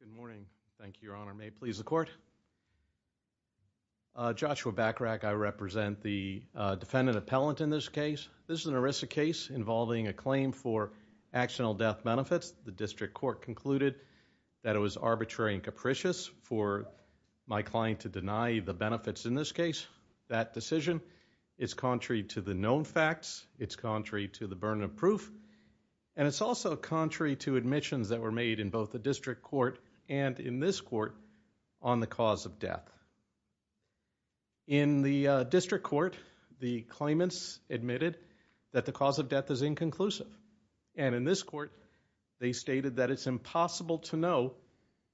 Good morning. Thank you, Your Honor. May it please the Court. Joshua Bachrach. I represent the defendant appellant in this case. This is an ERISA case involving a claim for accidental death benefits. The district court concluded that it was arbitrary and capricious for my client to deny the benefits in this case. That decision is contrary to the known facts. It's contrary to the burden of proof. And it's also contrary to admissions that were made in both the district court and in this court on the cause of death. In the district court, the claimants admitted that the cause of death is inconclusive. And in this court, they stated that it's impossible to know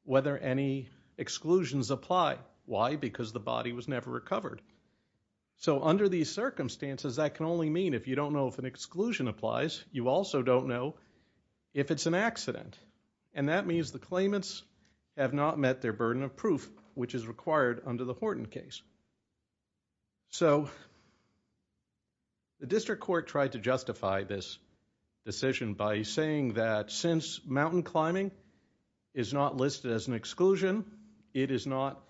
whether any exclusions apply. Why? Because the body was never recovered. So under these circumstances, that can only mean if you don't know if an exclusion applies, you also don't know if it's an accident. And that means the claimants have not met their burden of proof, which is required under the Horton case. So, the district court tried to justify this decision by saying that since mountain climbing is not listed as an exclusion, it is not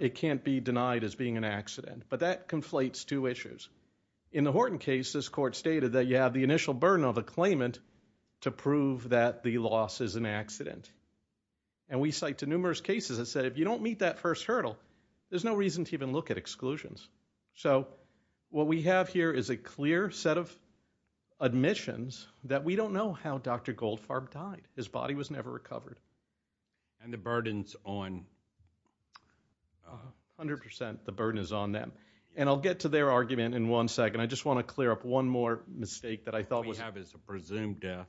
it can't be denied as being an accident. But that this court stated that you have the initial burden of a claimant to prove that the loss is an accident. And we cite to numerous cases that said if you don't meet that first hurdle, there's no reason to even look at exclusions. So, what we have here is a clear set of admissions that we don't know how Dr. Goldfarb died. His body was never recovered. And the burden's on... 100% the burden is on them. And I'll get to their argument in one second. I just want to clear up one more mistake that I thought was... What we have is a presumed death.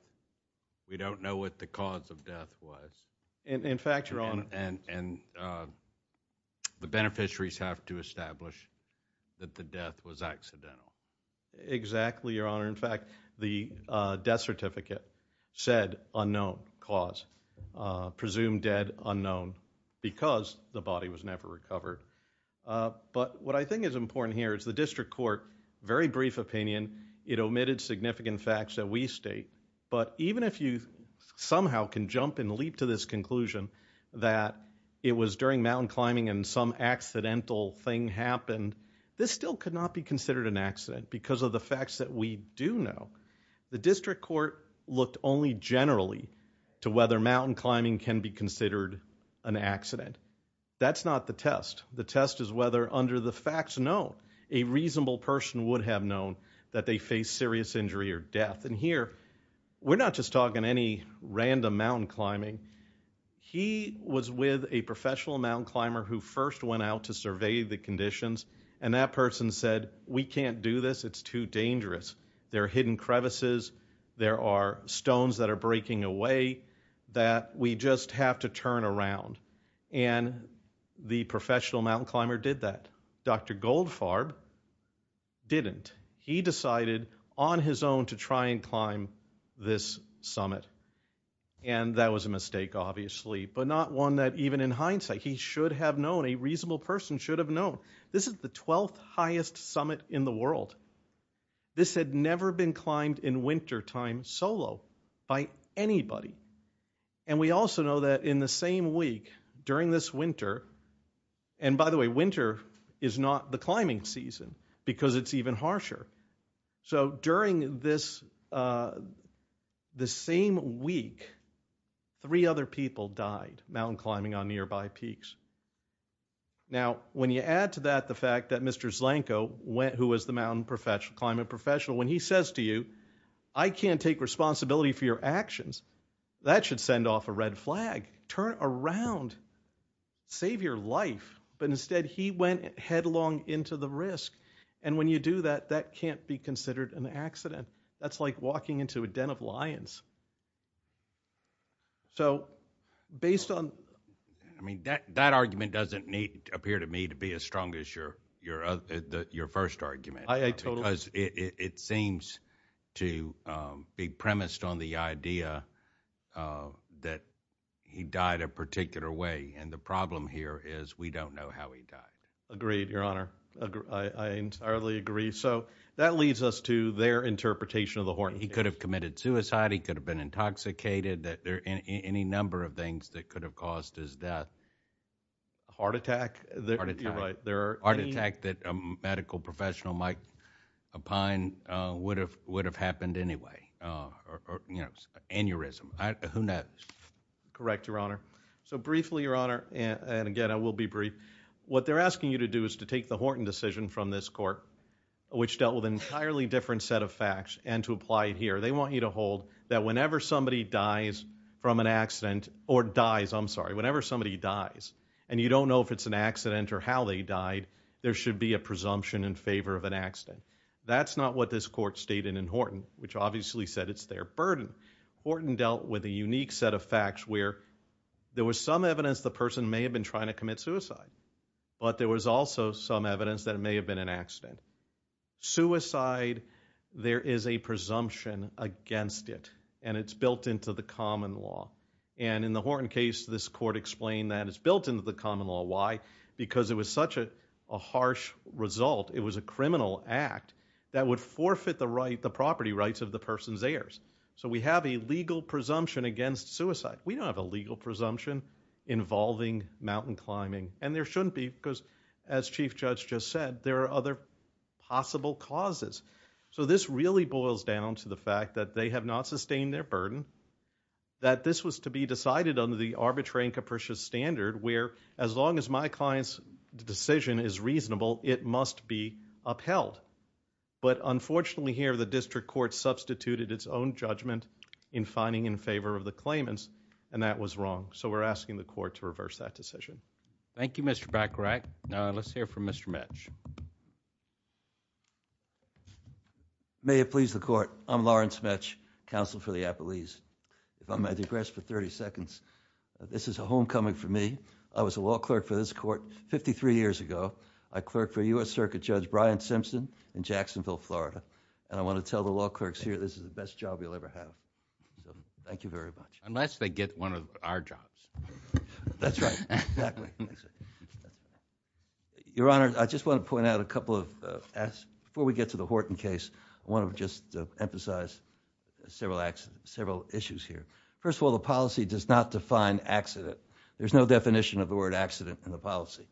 We don't know what the cause of death was. In fact, Your Honor... And the beneficiaries have to establish that the death was accidental. Exactly, Your Honor. In fact, the death certificate said unknown cause. Presumed dead, unknown. Because the body was never recovered. But what I think is important here is the district court, very brief opinion, it omitted significant facts that we state. But even if you somehow can jump and leap to this conclusion that it was during mountain climbing and some accidental thing happened, this still could not be considered an accident because of the facts that we do know. The district court looked only generally to whether mountain climbing can be considered an accident. That's not the test. The test is whether under the facts known a reasonable person would have known that they faced serious injury or death. And here, we're not just talking any random mountain climbing. He was with a professional mountain climber who first went out to survey the conditions and that person said, we can't do this. It's too dangerous. There are hidden crevices. There are You just have to turn around. And the professional mountain climber did that. Dr. Goldfarb didn't. He decided on his own to try and climb this summit. And that was a mistake obviously. But not one that even in hindsight he should have known. A reasonable person should have known. This is the 12th highest summit in the world. This had never been climbed in wintertime by anybody. And we also know that in the same week, during this winter and by the way, winter is not the climbing season because it's even harsher. So during this the same week, three other people died mountain climbing on nearby peaks. Now, when you add to that the fact that Mr. Zlanko, who was the mountain professional, when he says to you, I can't take responsibility for your actions, that should send off a red flag. Turn around. Save your life. But instead he went headlong into the risk. And when you do that, that can't be considered an accident. That's like walking into a den of lions. So, based on That argument doesn't appear to me to be as strong as your first argument. Because it seems to be premised on the idea that he died a particular way. And the problem here is we don't know how he died. Agreed, Your Honor. I entirely agree. So, that leads us to their interpretation of the Horton case. He could have committed suicide. He could have been intoxicated. Any number of things that could have caused his death. A heart attack? You're right. A heart attack that a medical professional might opine would have happened anyway. Aneurysm. Who knows? Correct, Your Honor. So, briefly, Your Honor, and again, I will be brief. What they're asking you to do is to take the Horton decision from this court, which dealt with an entirely different set of facts, and to apply it here. They want you to hold that whenever somebody dies from an accident or dies, I'm sorry, whenever somebody dies, and you don't know if it's an accident or how they died, there should be a presumption in favor of an accident. That's not what this court stated in Horton, which obviously said it's their burden. Horton dealt with a unique set of facts where there was some evidence the person may have been trying to commit suicide. But there was also some evidence that it may have been an accident. Suicide, there is a presumption against it. And it's built into the common law. And in the Horton case, this court explained that it's built into the common law. Why? Because it was such a harsh result, it was a criminal act that would forfeit the property rights of the person's heirs. So we have a legal presumption against suicide. We don't have a legal presumption involving mountain climbing. And there shouldn't be, because as Chief Judge just said, there are other possible causes. So this really boils down to the fact that they have not sustained their burden, that this was to be decided under the arbitrary and capricious standard where as long as my client's decision is reasonable, it must be upheld. But unfortunately here, the district court substituted its own judgment in finding in favor of the claimants, and that was wrong. So we're asking the court to reverse that decision. Thank you, Mr. Bacharach. Now let's hear from Mr. Metsch. May it please the court, I'm Lauren Smetsch, Counsel for the Appellees. If I may digress for 30 seconds, this is a homecoming for me. I was a law clerk for this court 53 years ago. I clerked for U.S. Circuit Judge Brian Simpson in Jacksonville, Florida, and I want to tell the law clerks here this is the best job you'll ever have. Thank you very much. Unless they get one of our jobs. That's right. Your Honor, I just want to before we get to the Horton case, I want to just emphasize several issues here. First of all, the policy does not define accident. There's no definition of the word accident in the policy.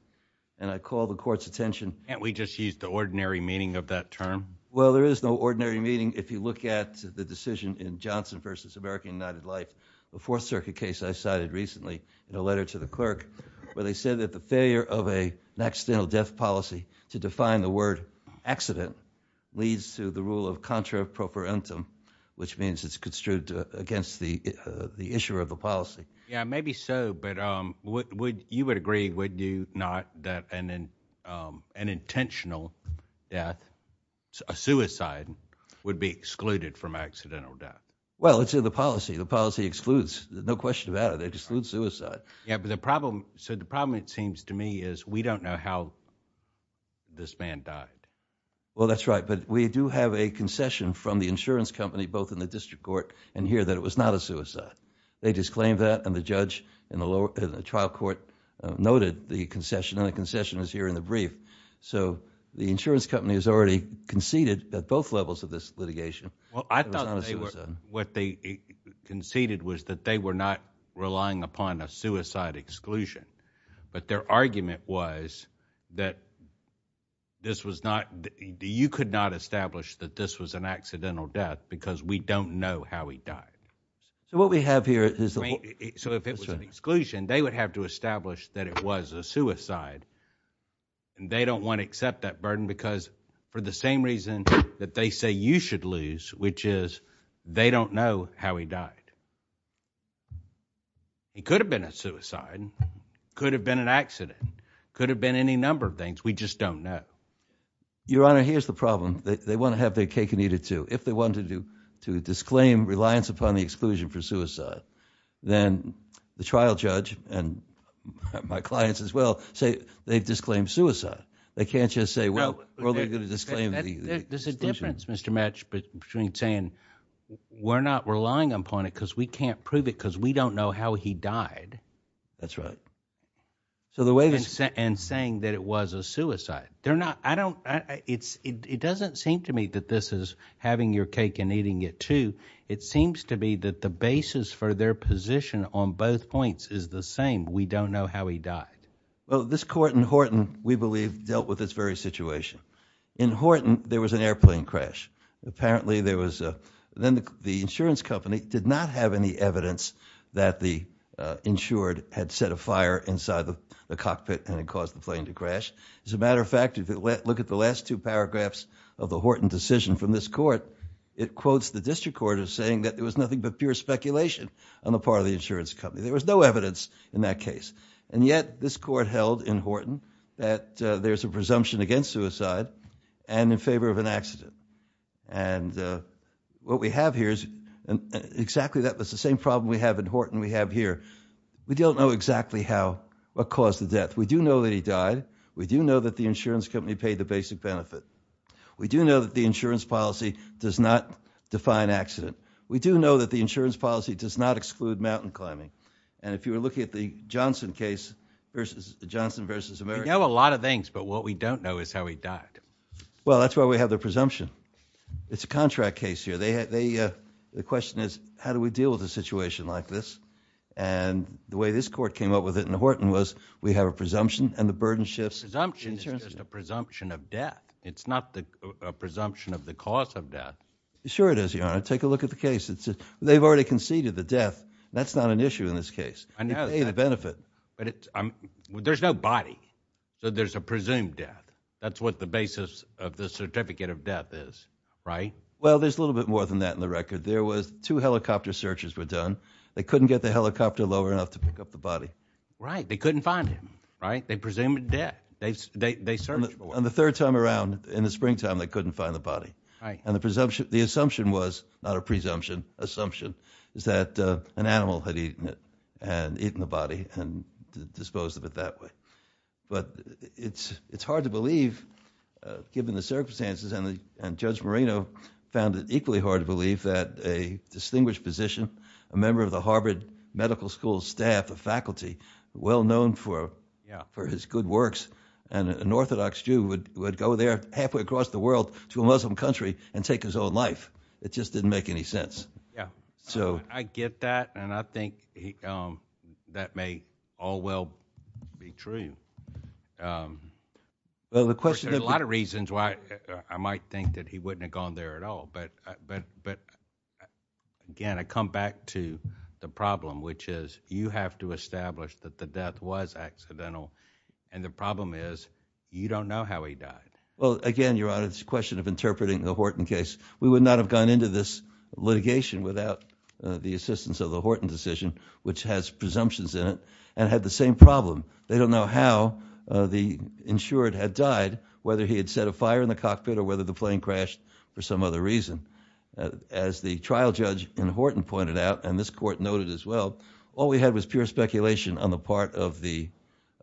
And I call the court's attention... Can't we just use the ordinary meaning of that term? Well, there is no ordinary meaning if you look at the decision in Johnson v. American United Life, the Fourth Circuit case I cited recently in a letter to the clerk, where they said that the failure of an accidental death policy to define the word accident leads to the rule of contra-appropriantum, which means it's construed against the issue of the policy. Yeah, maybe so, but you would agree, would you not, that an intentional death, a suicide, would be excluded from accidental death? Well, it's in the policy. The policy excludes, no question about it, it excludes suicide. Yeah, but the problem, so the problem it seems to me is we don't know how this man died. Well, that's right, but we do have a concession from the insurance company, both in the district court and here, that it was not a suicide. They disclaimed that, and the judge in the trial court noted the concession, and the concession is here in the brief. So, the insurance company has already conceded at both levels of this litigation that it was not a suicide. Well, I thought what they conceded was that they were not relying upon a suicide exclusion, but their argument was that this was not, you could not establish that this was an accidental death because we don't know how he died. So, what we have here is, so if it was an exclusion, they would have to establish that it was a suicide, and they don't want to accept that burden because for the same reason that they say you should lose, which is they don't know how he died. It could have been a suicide. It could have been an accident. It could have been any number of things. We just don't know. Your Honor, here's the problem. They want to have their cake and eat it too. If they wanted to disclaim reliance upon the exclusion for suicide, then the trial judge and my clients as well say they've disclaimed suicide. They can't just say, well, they're going to disclaim the exclusion. There's a difference, Mr. Metsch, between saying we're not relying upon it because we can't prove it because we don't know how he died. That's right. And saying that it was a suicide. It doesn't seem to me that this is having your cake and eating it too. It seems to me that the basis for their position on both points is the same. We don't know how he died. Well, this court in Horton, we believe, dealt with this very apparently there was then the insurance company did not have any evidence that the insured had set a fire inside the cockpit and it caused the plane to crash. As a matter of fact, if you look at the last two paragraphs of the Horton decision from this court, it quotes the district court as saying that there was nothing but pure speculation on the part of the insurance company. There was no evidence in that case. And yet this court held in Horton that there's a presumption against suicide and in favor of an accident. And what we have here is exactly that was the same problem we have in Horton we have here. We don't know exactly how what caused the death. We do know that he died. We do know that the insurance company paid the basic benefit. We do know that the insurance policy does not define accident. We do know that the insurance policy does not exclude mountain climbing. And if you were looking at the Johnson case versus the Johnson versus America. We know a lot of things, but what we don't know is how he died. Well, that's why we have the presumption. It's a contract case here. They, uh, the question is how do we deal with a situation like this? And the way this court came up with it in Horton was we have a presumption and the burden shifts. Presumption is just a presumption of death. It's not the presumption of the cause of death. Sure it is, Your Honor. Take a look at the case. They've already conceded the death. That's not an issue in this case. You pay the benefit. There's no body. So there's a presumed death. That's what the basis of the certificate of death is, right? Well, there's a little bit more than that in the record. There was two helicopter searches were done. They couldn't get the helicopter lower enough to pick up the body. Right. They couldn't find him. Right. They presumed dead. They searched for him. And the third time around, in the springtime, they couldn't find the body. And the assumption was, not a presumption, assumption, is that an animal had eaten it and eaten the body and disposed of it that way. But it's hard to believe given the circumstances and Judge Marino found it equally hard to believe that a distinguished physician, a member of the Harvard Medical School staff, a faculty, well known for his good works, and an Orthodox Jew would go there halfway across the world to a Muslim country and take his own life. It just didn't make any sense. I get that, and I think that may all well be true. There's a lot of reasons why I might think that he wouldn't have gone there at all, but again, I come back to the problem which is, you have to establish that the death was accidental, and the problem is, you don't know how he died. Well, again, Your Honor, it's a question of case. We would not have gone into this litigation without the assistance of the Horton decision, which has presumptions in it, and had the same problem. They don't know how the insured had died, whether he had set a fire in the cockpit or whether the plane crashed for some other reason. As the trial judge in Horton pointed out, and this court noted as well, all we had was pure speculation on the part of the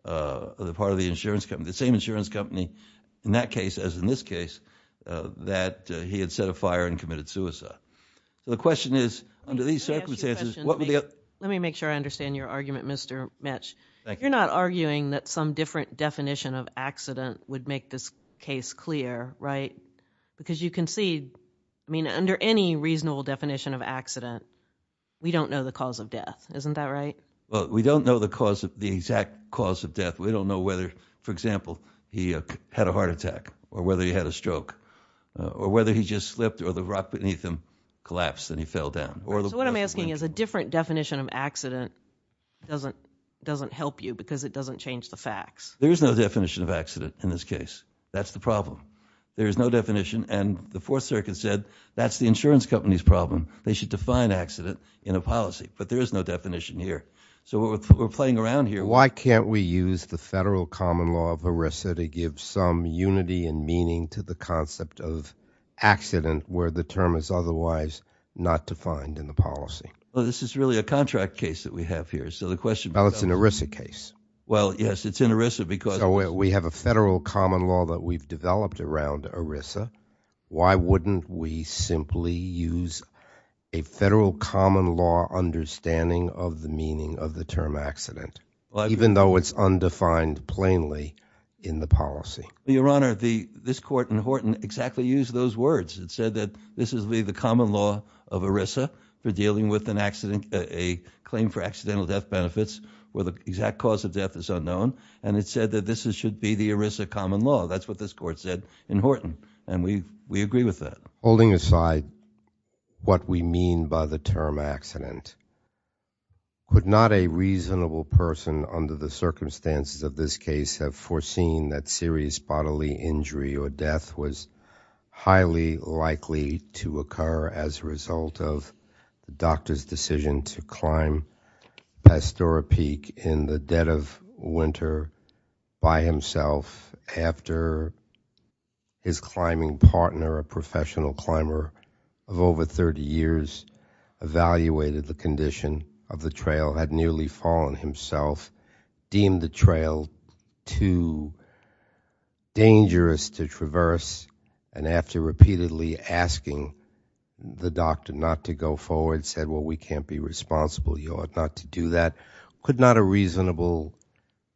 insurance company, the same insurance company in that case, as in this case, that he had set a fire and committed suicide. The question is, under these circumstances, what would the other... Let me make sure I understand your argument, Mr. Metsch. Thank you. You're not arguing that some different definition of accident would make this case clear, right? Because you can see, I mean, under any reasonable definition of accident, we don't know the cause of death. Isn't that right? Well, we don't know the exact cause of death. We don't know whether, for example, he had a heart attack, or whether he had a stroke, or whether he just slipped or the rock beneath him collapsed and he fell down. So what I'm asking is a different definition of accident doesn't help you because it doesn't change the facts. There is no definition of accident in this case. That's the problem. There is no definition, and the Fourth Circuit said that's the insurance company's problem. They should define accident in a policy, but there is no definition here. So we're playing around here. Why can't we use the Federal Common Law of ERISA to give some unity and meaning to the concept of accident where the term is otherwise not defined in the policy? Well, this is really a contract case that we have here. So the question... Well, it's an ERISA case. Well, yes, it's in ERISA because... So we have a Federal Common Law that we've developed around ERISA. Why wouldn't we simply use a different meaning of the term accident, even though it's undefined plainly in the policy? Your Honor, this Court in Horton exactly used those words. It said that this would be the common law of ERISA for dealing with a claim for accidental death benefits where the exact cause of death is unknown, and it said that this should be the ERISA common law. That's what this Court said in Horton, and we agree with that. Holding aside what we mean by the term accident, could not a reasonable person under the circumstances of this case have foreseen that serious bodily injury or death was highly likely to occur as a result of the doctor's decision to climb Pastora Peak in the dead of winter by himself after his climbing partner, a professional climber of over 30 years, evaluated the condition of the trail, had nearly fallen himself, deemed the trail too dangerous to traverse, and after repeatedly asking the doctor not to go forward said, well, we can't be responsible. You ought not to do that. Could not a reasonable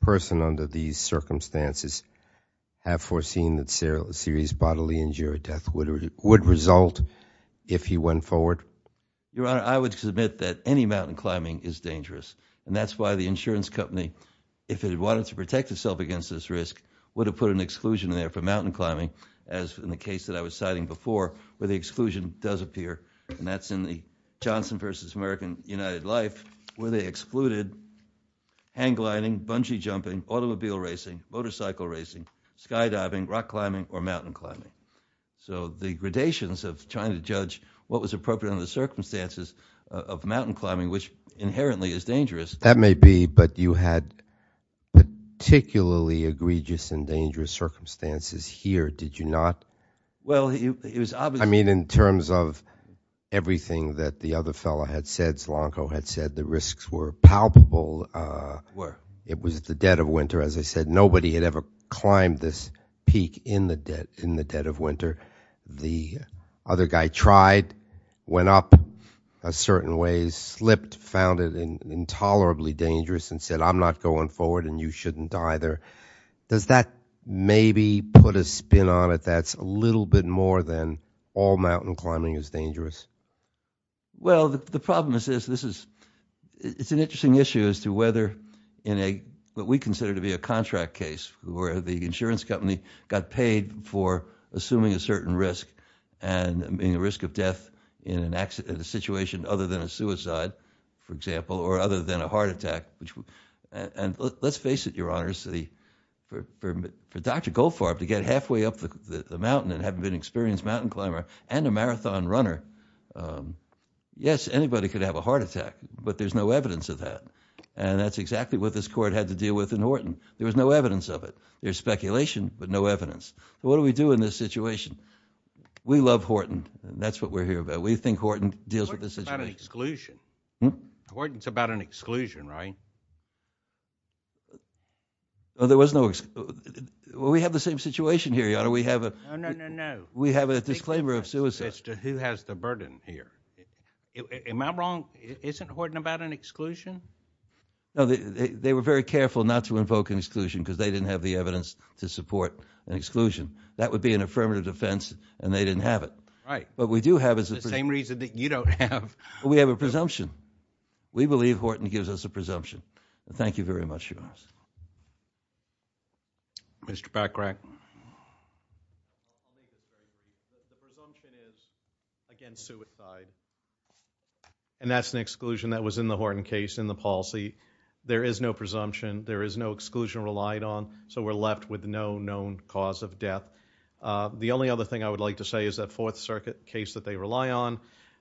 person under these circumstances have foreseen that serious bodily injury or death would result if he went forward? Your Honor, I would submit that any mountain climbing is dangerous, and that's why the insurance company, if it wanted to protect itself against this risk, would have put an exclusion there for mountain climbing as in the case that I was citing before where the exclusion does appear, and that's in the Johnson v. American United Life where they excluded hang gliding, bungee jumping, automobile racing, motorcycle racing, skydiving, rock climbing, or mountain climbing. So the gradations of trying to judge what was appropriate under the circumstances of mountain climbing, which inherently is dangerous. That may be, but you had particularly egregious and dangerous circumstances here, did you not? Well, it was obvious. I mean, in terms of everything that the other fellow had said, Zlonko had said, the risks were palpable. It was the dead of winter, as I said. Nobody had ever climbed this peak in the dead of winter. The other guy tried, went up a certain way, slipped, found it intolerably dangerous, and said, I'm not going forward and you shouldn't either. Does that maybe put a spin on it that's a little bit more than all mountain climbing is dangerous? Well, the problem is this. It's an interesting issue as to whether in what we consider to be a contract case where the insurance company got paid for assuming a certain risk and being at risk of death in a situation other than a suicide, for example, or other than a heart attack. And let's face it, Your Honor, for Dr. Goldfarb to get halfway up the mountain and having been an experienced mountain climber and a marathon runner, yes, anybody could have a heart attack, but there's no evidence of that. And that's exactly what this court had to deal with in Horton. There was no evidence of it. There's speculation, but no evidence. What do we do in this situation? We love Horton. That's what we're here about. We think Horton deals with this situation. Horton's about an exclusion, right? Well, there was no We have the same situation here, Your Honor. No, no, no, no. As to who has the burden here. Am I wrong? Isn't Horton about an exclusion? No, they were very careful not to invoke an exclusion because they didn't have the evidence to support an exclusion. That would be an affirmative defense, and they didn't have it. Right. It's the same reason that you don't have. We have a presumption. We believe Horton gives us a presumption. Thank you very much, Your Honor. Mr. Bachrach. The presumption is against suicide. And that's an exclusion that was in the Horton case in the policy. There is no presumption. There is no exclusion relied on. So we're left with no known cause of death. The only other thing I would like to say is that Fourth Circuit case that they rely on,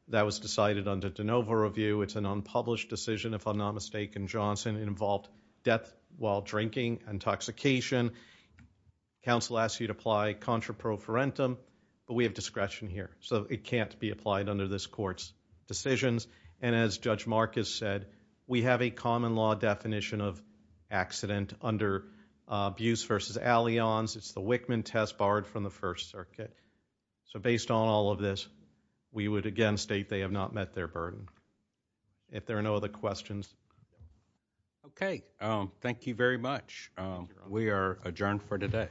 that was decided under De Novo review. It's an unpublished decision, if I'm not mistaken, Johnson. It involved death while drinking, intoxication. Counsel asked you to apply contraprofarentum, but we have discretion here. So it can't be applied under this court's decisions. And as Judge Marcus said, we have a common law definition of accident under Buse v. Allianz. It's the Wickman test borrowed from the First Circuit. So based on all of this, we would again state they have not met their burden. If there are no other questions. Okay. Thank you very much. We are adjourned for today.